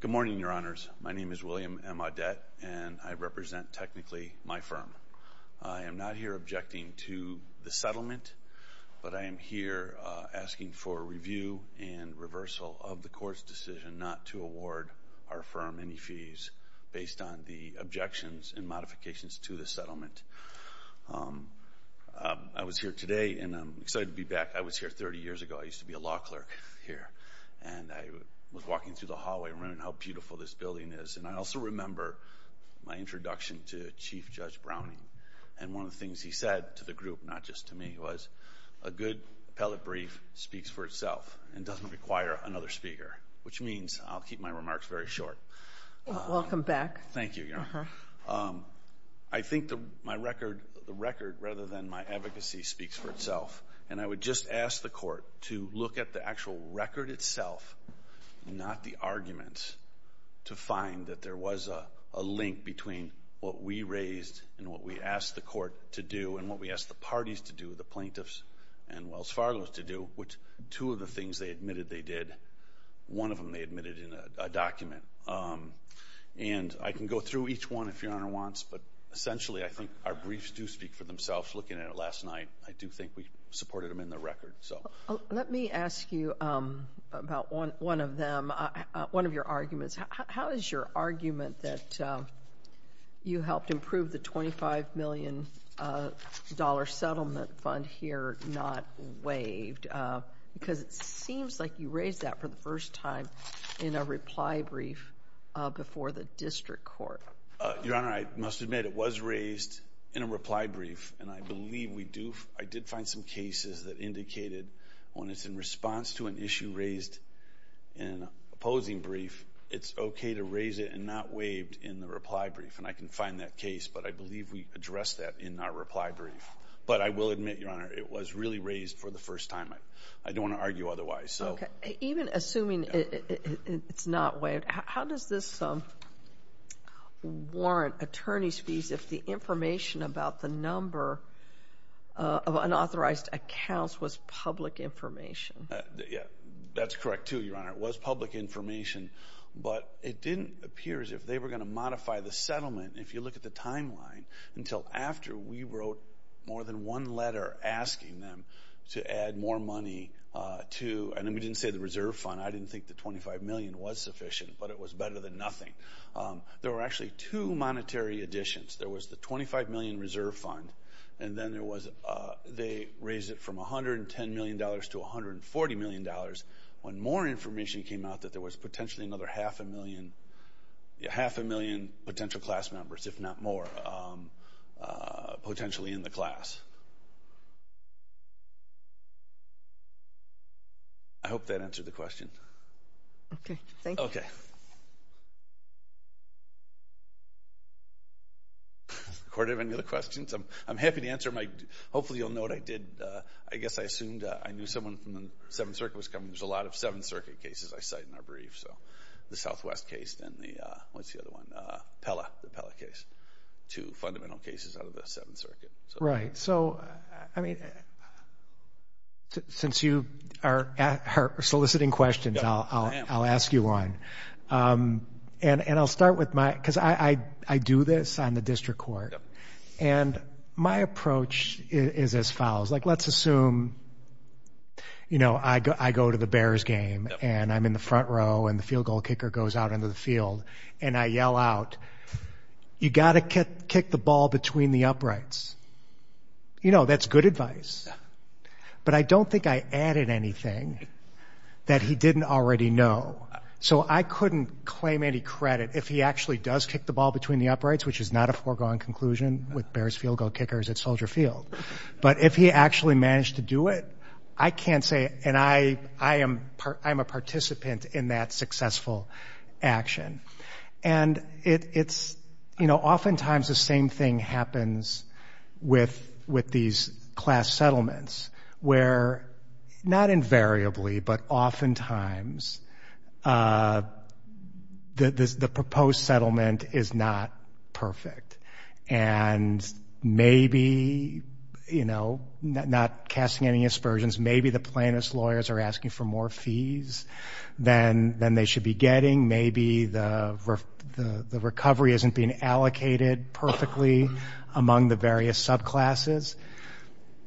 Good morning, Your Honors. My name is William M. Audette, and I represent, technically, my firm. I am not here objecting to the settlement, but I am here asking for review and reversal of the court's decision not to award our firm any fees based on the objections and modifications to the settlement. I was here today, and I'm excited to be back. I was here 30 years ago. I used to be a law clerk here, and I was walking through the hallway and remembering how beautiful this building is. And I also remember my introduction to Chief Judge Browning, and one of the things he said to the group, not just to me, was a good appellate brief speaks for itself and doesn't require another speaker, which means I'll keep my remarks very short. Welcome back. Thank you, Your Honor. I think my record rather than my advocacy speaks for itself, and I would just ask the court to look at the actual record itself, not the arguments, to find that there was a link between what we raised and what we asked the court to do and what we asked the parties to do, the plaintiffs and Wells Fargo to do, which two of the things they admitted they did. One of them they admitted in a document. And I can go through each one if Your Honor wants, but essentially I think our briefs do speak for themselves. Looking at it last night, I do think we supported them in the record. Let me ask you about one of your arguments. How is your argument that you helped improve the $25 million settlement fund here not waived? Because it seems like you raised that for the first time in a reply brief before the district court. Your Honor, I must admit it was raised in a reply brief, and I did find some cases that indicated when it's in response to an issue raised in an opposing brief, it's okay to raise it and not waive it in the reply brief, and I can find that case. But I believe we addressed that in our reply brief. But I will admit, Your Honor, it was really raised for the first time. I don't want to argue otherwise. Even assuming it's not waived, how does this warrant attorney's fees if the information about the number of unauthorized accounts was public information? That's correct, too, Your Honor. It was public information, but it didn't appear as if they were going to modify the settlement, if you look at the timeline, until after we wrote more than one letter asking them to add more money to, and we didn't say the reserve fund. I didn't think the $25 million was sufficient, but it was better than nothing. There were actually two monetary additions. There was the $25 million reserve fund, and then they raised it from $110 million to $140 million when more information came out that there was potentially another half a million potential class members, if not more, potentially in the class. I hope that answered the question. Okay, thank you. Court, do you have any other questions? I'm happy to answer my question. Hopefully you'll note I did, I guess I assumed I knew someone from the Seventh Circuit was coming. There's a lot of Seventh Circuit cases I cite in our briefs, so the Southwest case and the, what's the other one, Pella, the Pella case, two fundamental cases out of the Seventh Circuit. Right. So, I mean, since you are soliciting questions, I'll ask you one. And I'll start with my, because I do this on the district court, and my approach is as follows. Like, let's assume, you know, I go to the Bears game, and I'm in the front row, and the field goal kicker goes out into the field, and I yell out, you got to kick the ball between the uprights. You know, that's good advice. But I don't think I added anything that he didn't already know. So I couldn't claim any credit if he actually does kick the ball between the uprights, which is not a foregone conclusion with Bears field goal kickers at Soldier Field. But if he actually managed to do it, I can't say, and I am a participant in that successful action. And it's, you know, oftentimes the same thing happens with these class settlements, where not invariably but oftentimes the proposed settlement is not perfect. And maybe, you know, not casting any aspersions, maybe the plaintiff's lawyers are asking for more fees than they should be getting. Maybe the recovery isn't being allocated perfectly among the various subclasses.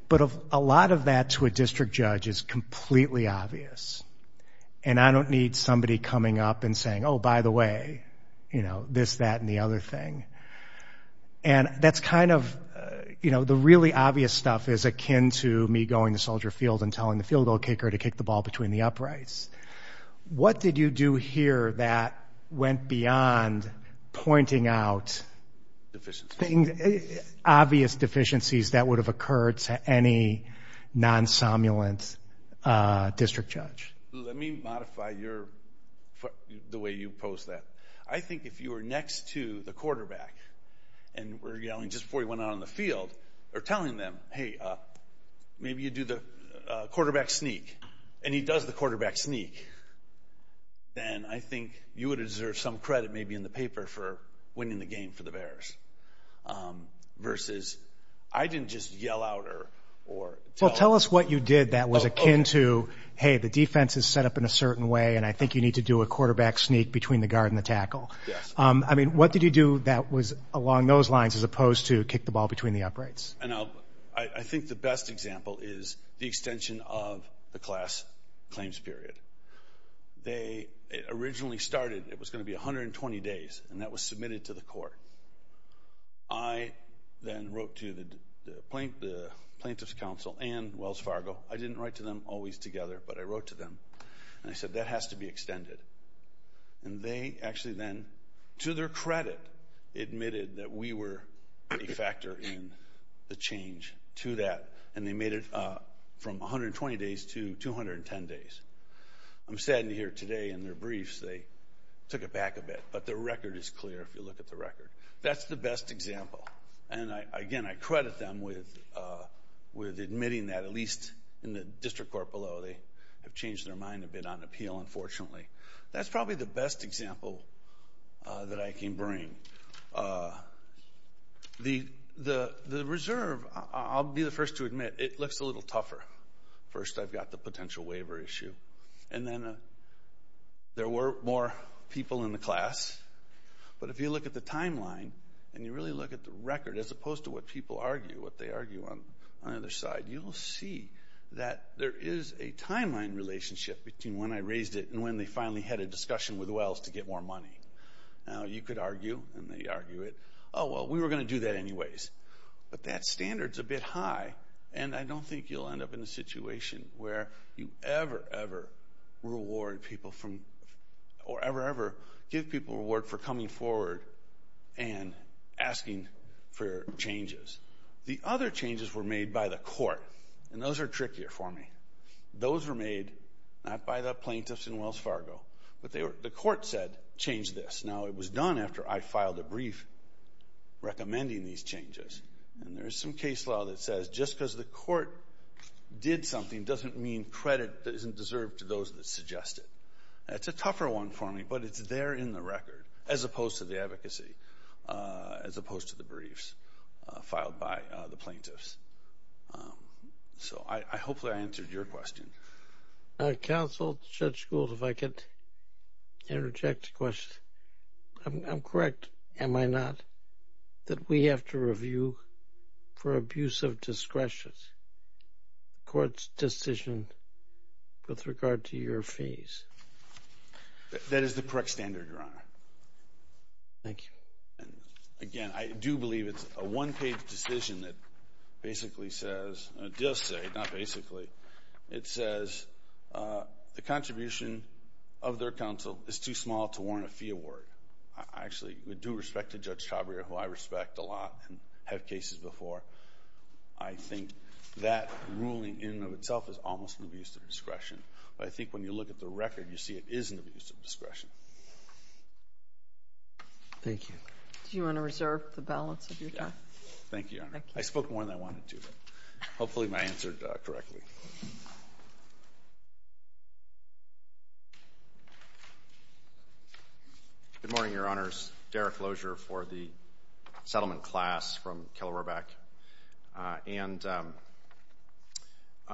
But a lot of that to a district judge is completely obvious. And I don't need somebody coming up and saying, oh, by the way, you know, this, that, and the other thing. And that's kind of, you know, the really obvious stuff is akin to me going to Soldier Field and telling the field goal kicker to kick the ball between the uprights. What did you do here that went beyond pointing out obvious deficiencies that would have occurred to any non-summulant district judge? Let me modify the way you pose that. I think if you were next to the quarterback and were yelling just before he went out on the field or telling them, hey, maybe you do the quarterback sneak, and he does the quarterback sneak, then I think you would have deserved some credit maybe in the paper for winning the game for the Bears, versus I didn't just yell out or tell them. Well, tell us what you did that was akin to, hey, the defense is set up in a certain way, and I think you need to do a quarterback sneak between the guard and the tackle. Yes. I mean, what did you do that was along those lines as opposed to kick the ball between the uprights? I think the best example is the extension of the class claims period. They originally started, it was going to be 120 days, and that was submitted to the court. I then wrote to the plaintiff's counsel and Wells Fargo. I didn't write to them always together, but I wrote to them, and I said, that has to be extended. And they actually then, to their credit, admitted that we were a factor in the change to that, and they made it from 120 days to 210 days. I'm saddened to hear today in their briefs they took it back a bit, but the record is clear if you look at the record. That's the best example. And, again, I credit them with admitting that, at least in the district court below. They have changed their mind a bit on appeal, unfortunately. That's probably the best example that I can bring. The reserve, I'll be the first to admit, it looks a little tougher. First, I've got the potential waiver issue, and then there were more people in the class. But if you look at the timeline and you really look at the record, as opposed to what people argue, what they argue on either side, you'll see that there is a timeline relationship between when I raised it and when they finally had a discussion with Wells to get more money. Now, you could argue, and they argue it, oh, well, we were going to do that anyways. But that standard's a bit high, and I don't think you'll end up in a situation where you ever, ever reward people from, or ever, ever give people a reward for coming forward and asking for changes. The other changes were made by the court, and those are trickier for me. Those were made not by the plaintiffs in Wells Fargo, but the court said, change this. Now, it was done after I filed a brief recommending these changes, and there is some case law that says just because the court did something doesn't mean credit isn't deserved to those that suggest it. That's a tougher one for me, but it's there in the record, as opposed to the advocacy, as opposed to the briefs filed by the plaintiffs. So hopefully I answered your question. Counsel, Judge Gould, if I could interject a question. I'm correct, am I not, that we have to review for abuse of discretion the court's decision with regard to your fees? That is the correct standard, Your Honor. Thank you. Again, I do believe it's a one-page decision that basically says, it does say, not basically, it says the contribution of their counsel is too small to warrant a fee award. I actually do respect Judge Chobrier, who I respect a lot and have cases before. I think that ruling in and of itself is almost an abuse of discretion. But I think when you look at the record, you see it is an abuse of discretion. Thank you. Do you want to reserve the balance of your time? Thank you, Your Honor. I spoke more than I wanted to, but hopefully I answered correctly. Good morning, Your Honors. Derek Lozier for the settlement class from Killerobeck. And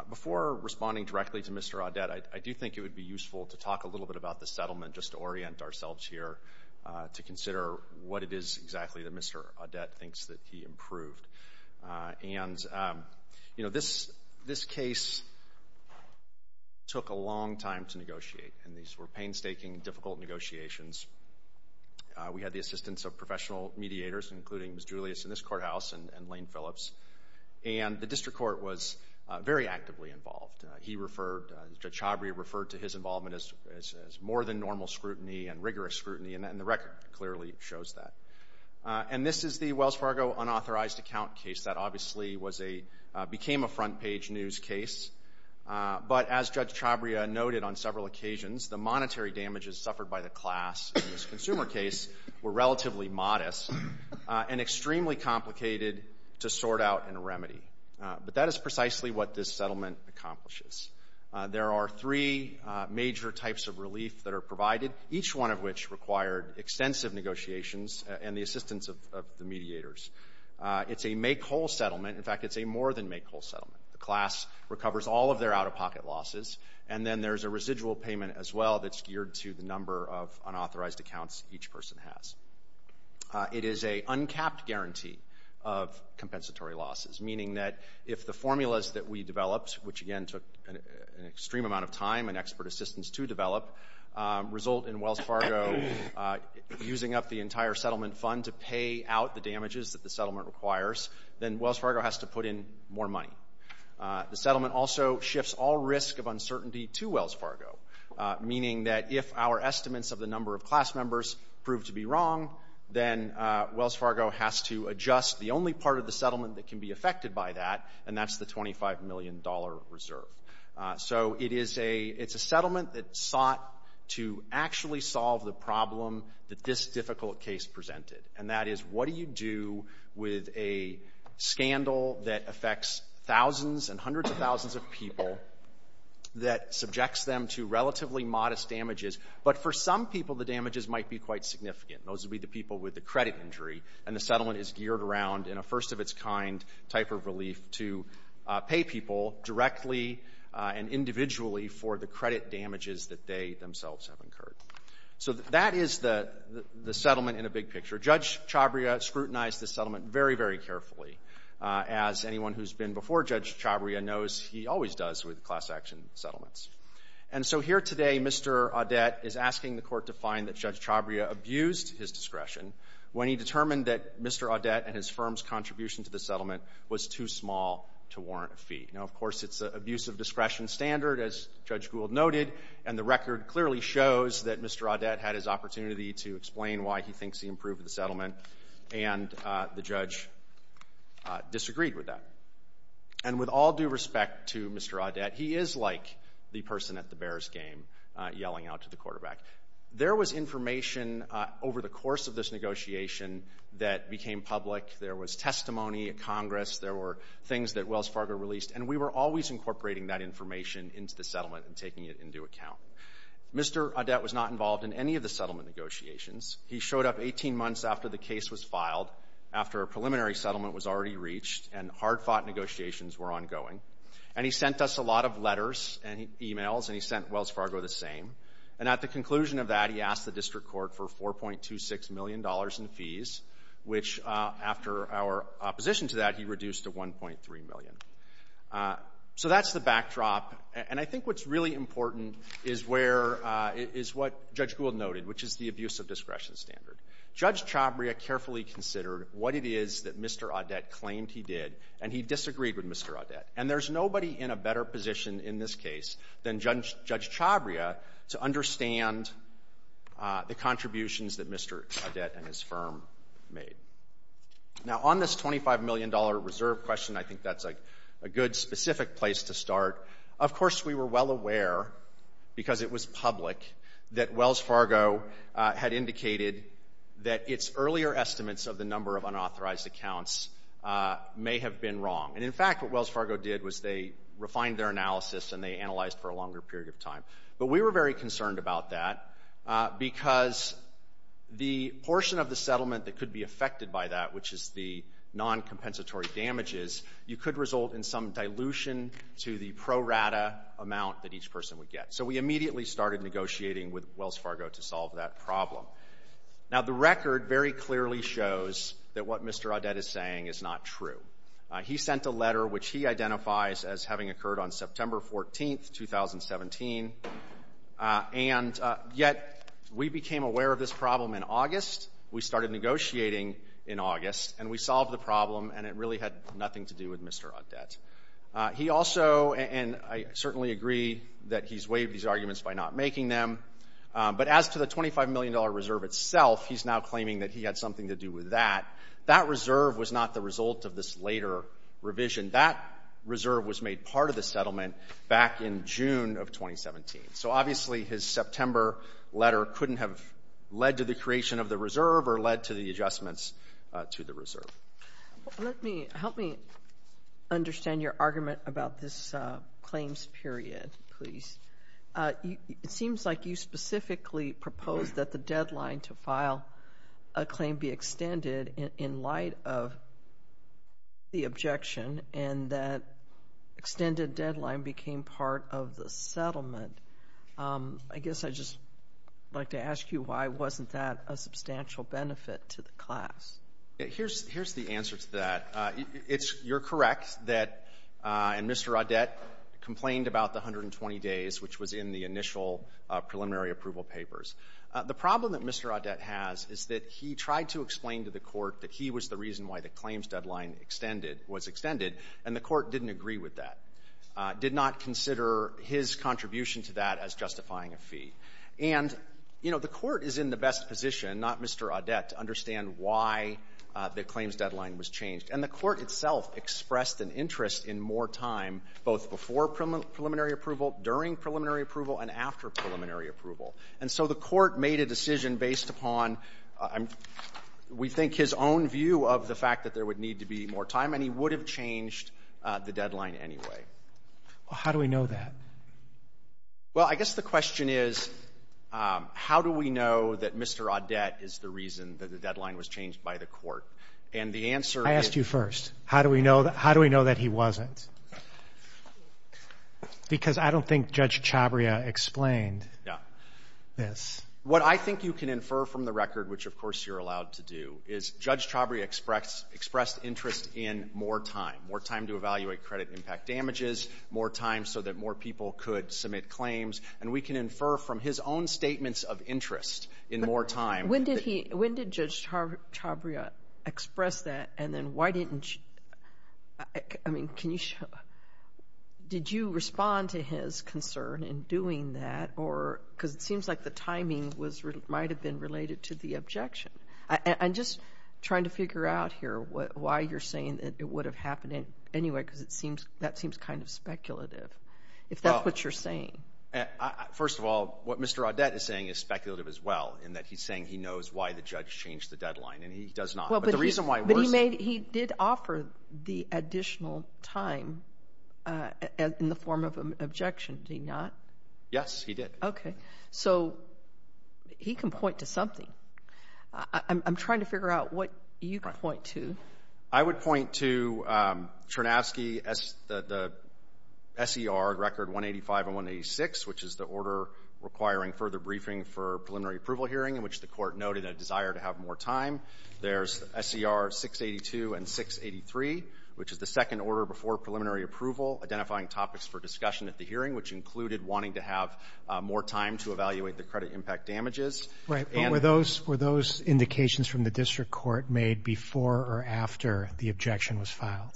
before responding directly to Mr. Audet, I do think it would be useful to talk a little bit about the settlement just to orient ourselves here to consider what it is exactly that Mr. Audet thinks that he improved. And, you know, this case took a long time to negotiate, and these were painstaking, difficult negotiations. We had the assistance of professional mediators, including Ms. Julius in this courthouse and Lane Phillips, and the district court was very actively involved. He referred, Judge Chobrier referred to his involvement as more than normal scrutiny and rigorous scrutiny, and the record clearly shows that. And this is the Wells Fargo unauthorized account case that obviously became a front-page news case. But as Judge Chobrier noted on several occasions, the monetary damages suffered by the class in this consumer case were relatively modest and extremely complicated to sort out in a remedy. But that is precisely what this settlement accomplishes. There are three major types of relief that are provided, each one of which required extensive negotiations and the assistance of the mediators. It's a make-whole settlement. In fact, it's a more-than-make-whole settlement. The class recovers all of their out-of-pocket losses, and then there's a residual payment as well that's geared to the number of unauthorized accounts each person has. It is a uncapped guarantee of compensatory losses, meaning that if the formulas that we developed, which again took an extreme amount of time and expert assistance to develop, result in Wells Fargo using up the entire settlement fund to pay out the damages that the settlement requires, then Wells Fargo has to put in more money. The settlement also shifts all risk of uncertainty to Wells Fargo, meaning that if our estimates of the number of class members prove to be wrong, then Wells Fargo has to adjust the only part of the settlement that can be affected by that, and that's the $25 million reserve. So it is a settlement that sought to actually solve the problem that this difficult case presented, and that is what do you do with a scandal that affects thousands and hundreds of thousands of people that subjects them to relatively modest damages, but for some people the damages might be quite significant. Those would be the people with the credit injury, and the settlement is geared around in a first-of-its-kind type of relief to pay people directly and individually for the credit damages that they themselves have incurred. So that is the settlement in a big picture. Judge Chabria scrutinized this settlement very, very carefully. As anyone who's been before Judge Chabria knows, he always does with class action settlements. And so here today Mr. Audet is asking the court to find that Judge Chabria abused his discretion when he determined that Mr. Audet and his firm's contribution to the settlement was too small to warrant a fee. Now, of course, it's an abuse of discretion standard, as Judge Gould noted, and the record clearly shows that Mr. Audet had his opportunity to explain why he thinks he improved the settlement, and the judge disagreed with that. And with all due respect to Mr. Audet, he is like the person at the Bears game yelling out to the quarterback. There was information over the course of this negotiation that became public. There was testimony at Congress. There were things that Wells Fargo released, and we were always incorporating that information into the settlement and taking it into account. Mr. Audet was not involved in any of the settlement negotiations. He showed up 18 months after the case was filed, after a preliminary settlement was already reached, and hard-fought negotiations were ongoing. And he sent us a lot of letters and e-mails, and he sent Wells Fargo the same. And at the conclusion of that, he asked the district court for $4.26 million in fees, which after our opposition to that, he reduced to $1.3 million. So that's the backdrop. And I think what's really important is where – is what Judge Gould noted, which is the abuse of discretion standard. Judge Chabria carefully considered what it is that Mr. Audet claimed he did, and he disagreed with Mr. Audet. And there's nobody in a better position in this case than Judge Chabria to understand the contributions that Mr. Audet and his firm made. Now, on this $25 million reserve question, I think that's a good specific place to start. Of course, we were well aware, because it was public, that Wells Fargo had indicated that its earlier estimates of the number of unauthorized accounts may have been wrong. And in fact, what Wells Fargo did was they refined their analysis and they analyzed for a longer period of time. But we were very concerned about that, because the portion of the settlement that could be affected by that, which is the noncompensatory damages, you could result in some dilution to the pro rata amount that each person would get. So we immediately started negotiating with Wells Fargo to solve that problem. Now, the record very clearly shows that what Mr. Audet is saying is not true. He sent a letter, which he identifies as having occurred on September 14, 2017, and yet we became aware of this problem in August. And it really had nothing to do with Mr. Audet. He also, and I certainly agree that he's waived these arguments by not making them, but as to the $25 million reserve itself, he's now claiming that he had something to do with that. That reserve was not the result of this later revision. That reserve was made part of the settlement back in June of 2017. So obviously his September letter couldn't have led to the creation of the reserve or led to the adjustments to the reserve. Help me understand your argument about this claims period, please. It seems like you specifically proposed that the deadline to file a claim be extended in light of the objection and that extended deadline became part of the settlement. I guess I'd just like to ask you why wasn't that a substantial benefit to the class? Here's the answer to that. You're correct that Mr. Audet complained about the 120 days, which was in the initial preliminary approval papers. The problem that Mr. Audet has is that he tried to explain to the Court that he was the reason why the claims deadline extended, was extended, and the Court didn't agree with that. Did not consider his contribution to that as justifying a fee. And, you know, the Court is in the best position, not Mr. Audet, to understand why the claims deadline was changed. And the Court itself expressed an interest in more time both before preliminary approval, during preliminary approval, and after preliminary approval. And so the Court made a decision based upon, we think, his own view of the fact that there would need to be more time and he would have changed the deadline anyway. Well, how do we know that? Well, I guess the question is, how do we know that Mr. Audet is the reason that the deadline was changed by the Court? I asked you first. How do we know that he wasn't? Because I don't think Judge Chabria explained this. What I think you can infer from the record, which of course you're allowed to do, is Judge Chabria expressed interest in more time, more time to evaluate credit impact damages, more time so that more people could submit claims. And we can infer from his own statements of interest in more time. When did he – when did Judge Chabria express that and then why didn't – I mean, can you – did you respond to his concern in doing that or – because it seems like the timing was – might have been related to the objection. I'm just trying to figure out here why you're saying that it would have happened anyway because it seems – that seems kind of speculative, if that's what you're saying. First of all, what Mr. Audet is saying is speculative as well in that he's saying he knows why the judge changed the deadline and he does not. But the reason why he wasn't – But he made – he did offer the additional time in the form of an objection, did he not? Yes, he did. Okay. So he can point to something. I'm trying to figure out what you can point to. I would point to Chernavsky, the SER record 185 and 186, which is the order requiring further briefing for preliminary approval hearing in which the court noted a desire to have more time. There's SER 682 and 683, which is the second order before preliminary approval identifying topics for discussion at the hearing, which included wanting to have more time to evaluate the credit impact damages. Right. But were those – were those indications from the district court made before or after the objection was filed?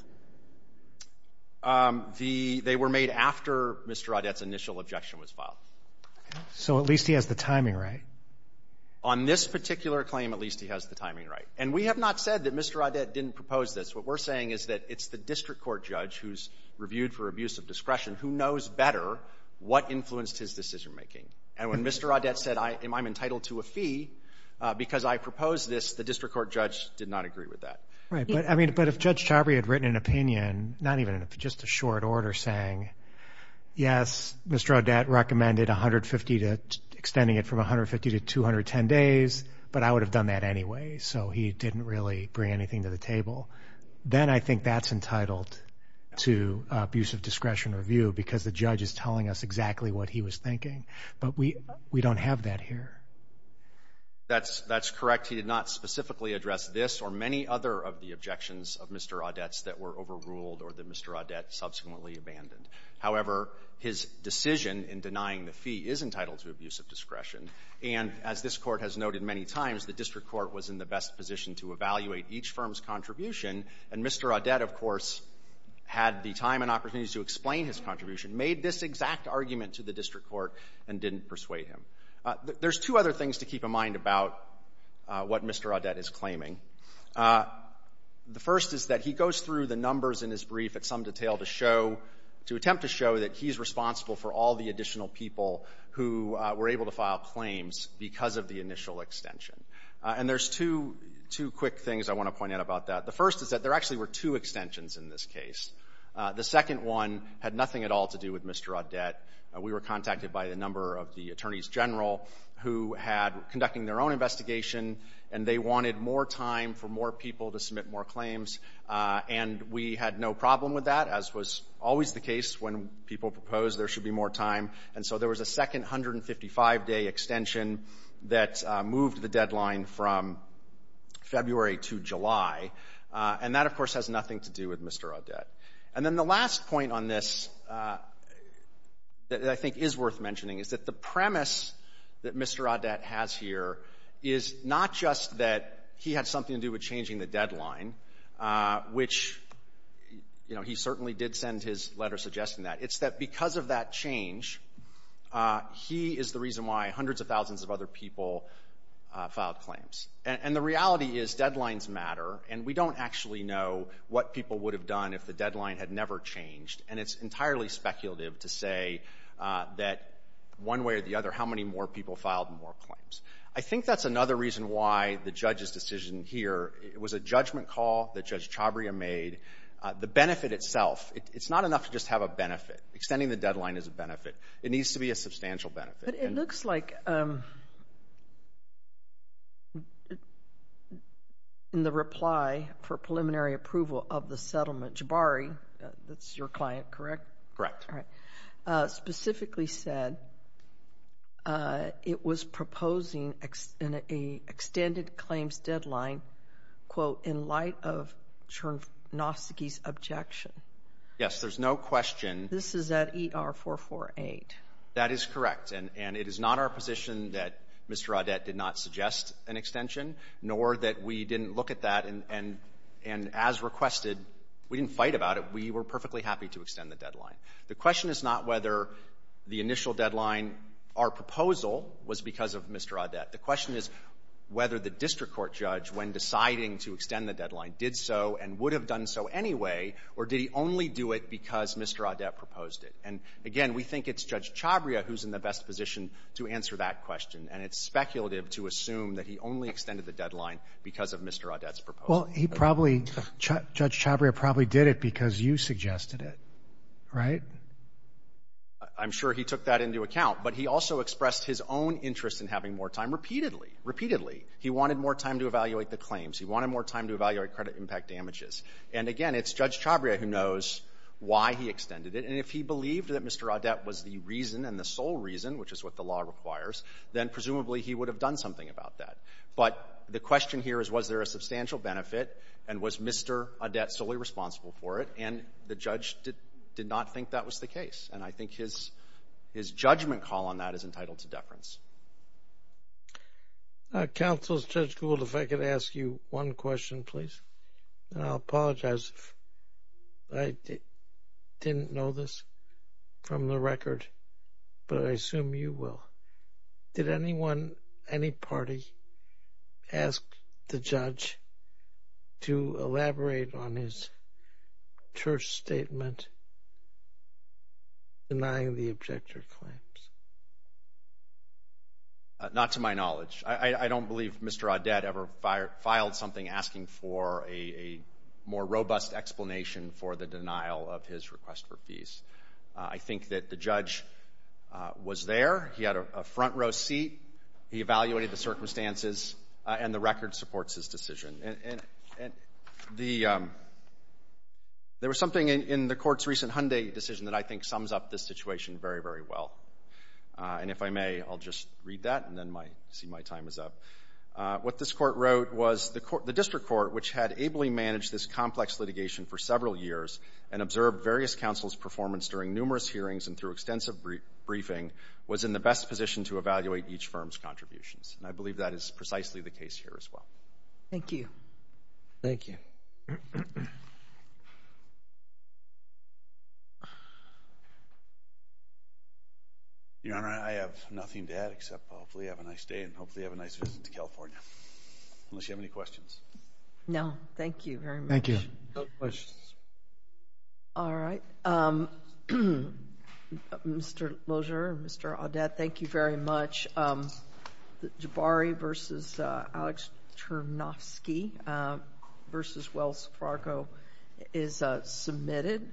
The – they were made after Mr. Audet's initial objection was filed. So at least he has the timing right. On this particular claim, at least he has the timing right. And we have not said that Mr. Audet didn't propose this. What we're saying is that it's the district court judge who's reviewed for abuse of discretion who knows better what influenced his decision-making. And when Mr. Audet said, I'm entitled to a fee because I proposed this, the district court judge did not agree with that. Right. But, I mean, but if Judge Chabry had written an opinion, not even an opinion, just a short order saying, yes, Mr. Audet recommended 150 to – extending it from 150 to 210 days, but I would have done that anyway. So he didn't really bring anything to the table. Then I think that's entitled to abuse of discretion review because the judge is telling us exactly what he was thinking. But we – we don't have that here. That's – that's correct. He did not specifically address this or many other of the objections of Mr. Audet's that were overruled or that Mr. Audet subsequently abandoned. However, his decision in denying the fee is entitled to abuse of discretion. And as this Court has noted many times, the district court was in the best position to evaluate each firm's contribution. And Mr. Audet, of course, had the time and opportunity to explain his contribution, made this exact argument to the district court, and didn't persuade him. There's two other things to keep in mind about what Mr. Audet is claiming. The first is that he goes through the numbers in his brief at some detail to show – to attempt to show that he's responsible for all the additional people who were able to file claims because of the initial extension. And there's two – two quick things I want to point out about that. The first is that there actually were two extensions in this case. The second one had nothing at all to do with Mr. Audet. We were contacted by a number of the attorneys general who had – conducting their own investigation, and they wanted more time for more people to submit more claims. And we had no problem with that, as was always the case when people proposed there should be more time. And so there was a second 155-day extension that moved the deadline from February to July. And that, of course, has nothing to do with Mr. Audet. And then the last point on this that I think is worth mentioning is that the premise that Mr. Audet has here is not just that he had something to do with changing the deadline, which, you know, he certainly did send his letter suggesting that. It's that because of that change, he is the reason why hundreds of thousands of other people filed claims. And the reality is deadlines matter, and we don't actually know what people would have done if the deadline had never changed. And it's entirely speculative to say that one way or the other how many more people filed more claims. I think that's another reason why the judge's decision here was a judgment call that Judge Chabria made. The benefit itself, it's not enough to just have a benefit. Extending the deadline is a benefit. It needs to be a substantial benefit. But it looks like in the reply for preliminary approval of the settlement, Jabari, that's your client, correct? Correct. All right. Specifically said it was proposing an extended claims deadline, quote, in light of Chernofsky's objection. Yes. There's no question. This is at ER-448. That is correct. And it is not our position that Mr. Audet did not suggest an extension, nor that we didn't look at that. And as requested, we didn't fight about it. We were perfectly happy to extend the deadline. The question is not whether the initial deadline, our proposal, was because of Mr. Audet. The question is whether the district court judge, when deciding to extend the deadline, did so and would have done so anyway, or did he only do it because Mr. Audet proposed it. And, again, we think it's Judge Chabria who's in the best position to answer that question. And it's speculative to assume that he only extended the deadline because of Mr. Audet's proposal. Well, he probably, Judge Chabria probably did it because you suggested it, right? I'm sure he took that into account. But he also expressed his own interest in having more time repeatedly, repeatedly. He wanted more time to evaluate the claims. He wanted more time to evaluate credit impact damages. And, again, it's Judge Chabria who knows why he extended it. And if he believed that Mr. Audet was the reason and the sole reason, which is what the law requires, then presumably he would have done something about that. But the question here is was there a substantial benefit and was Mr. Audet solely responsible for it? And the judge did not think that was the case. And I think his judgment call on that is entitled to deference. Counsel, Judge Gould, if I could ask you one question, please. And I'll apologize if I didn't know this from the record, but I assume you will. Did anyone, any party, ask the judge to elaborate on his church statement denying the objector claims? Not to my knowledge. I don't believe Mr. Audet ever filed something asking for a more robust explanation for the denial of his request for fees. I think that the judge was there. He had a front-row seat. He evaluated the circumstances. And the record supports his decision. And there was something in the Court's recent Hyundai decision that I think sums up this situation very, very well. And if I may, I'll just read that and then see my time is up. What this Court wrote was the District Court, which had ably managed this complex litigation for several years and observed various counsels' performance during numerous hearings and through extensive briefing, was in the best position to evaluate each firm's contributions. And I believe that is precisely the case here as well. Thank you. Thank you. Your Honor, I have nothing to add except hopefully have a nice day and hopefully have a nice visit to California, unless you have any questions. No, thank you very much. Thank you. No questions. All right. Mr. Lozier and Mr. Audet, thank you very much. Jabari v. Alex Chernovsky v. Wells Fargo is submitted.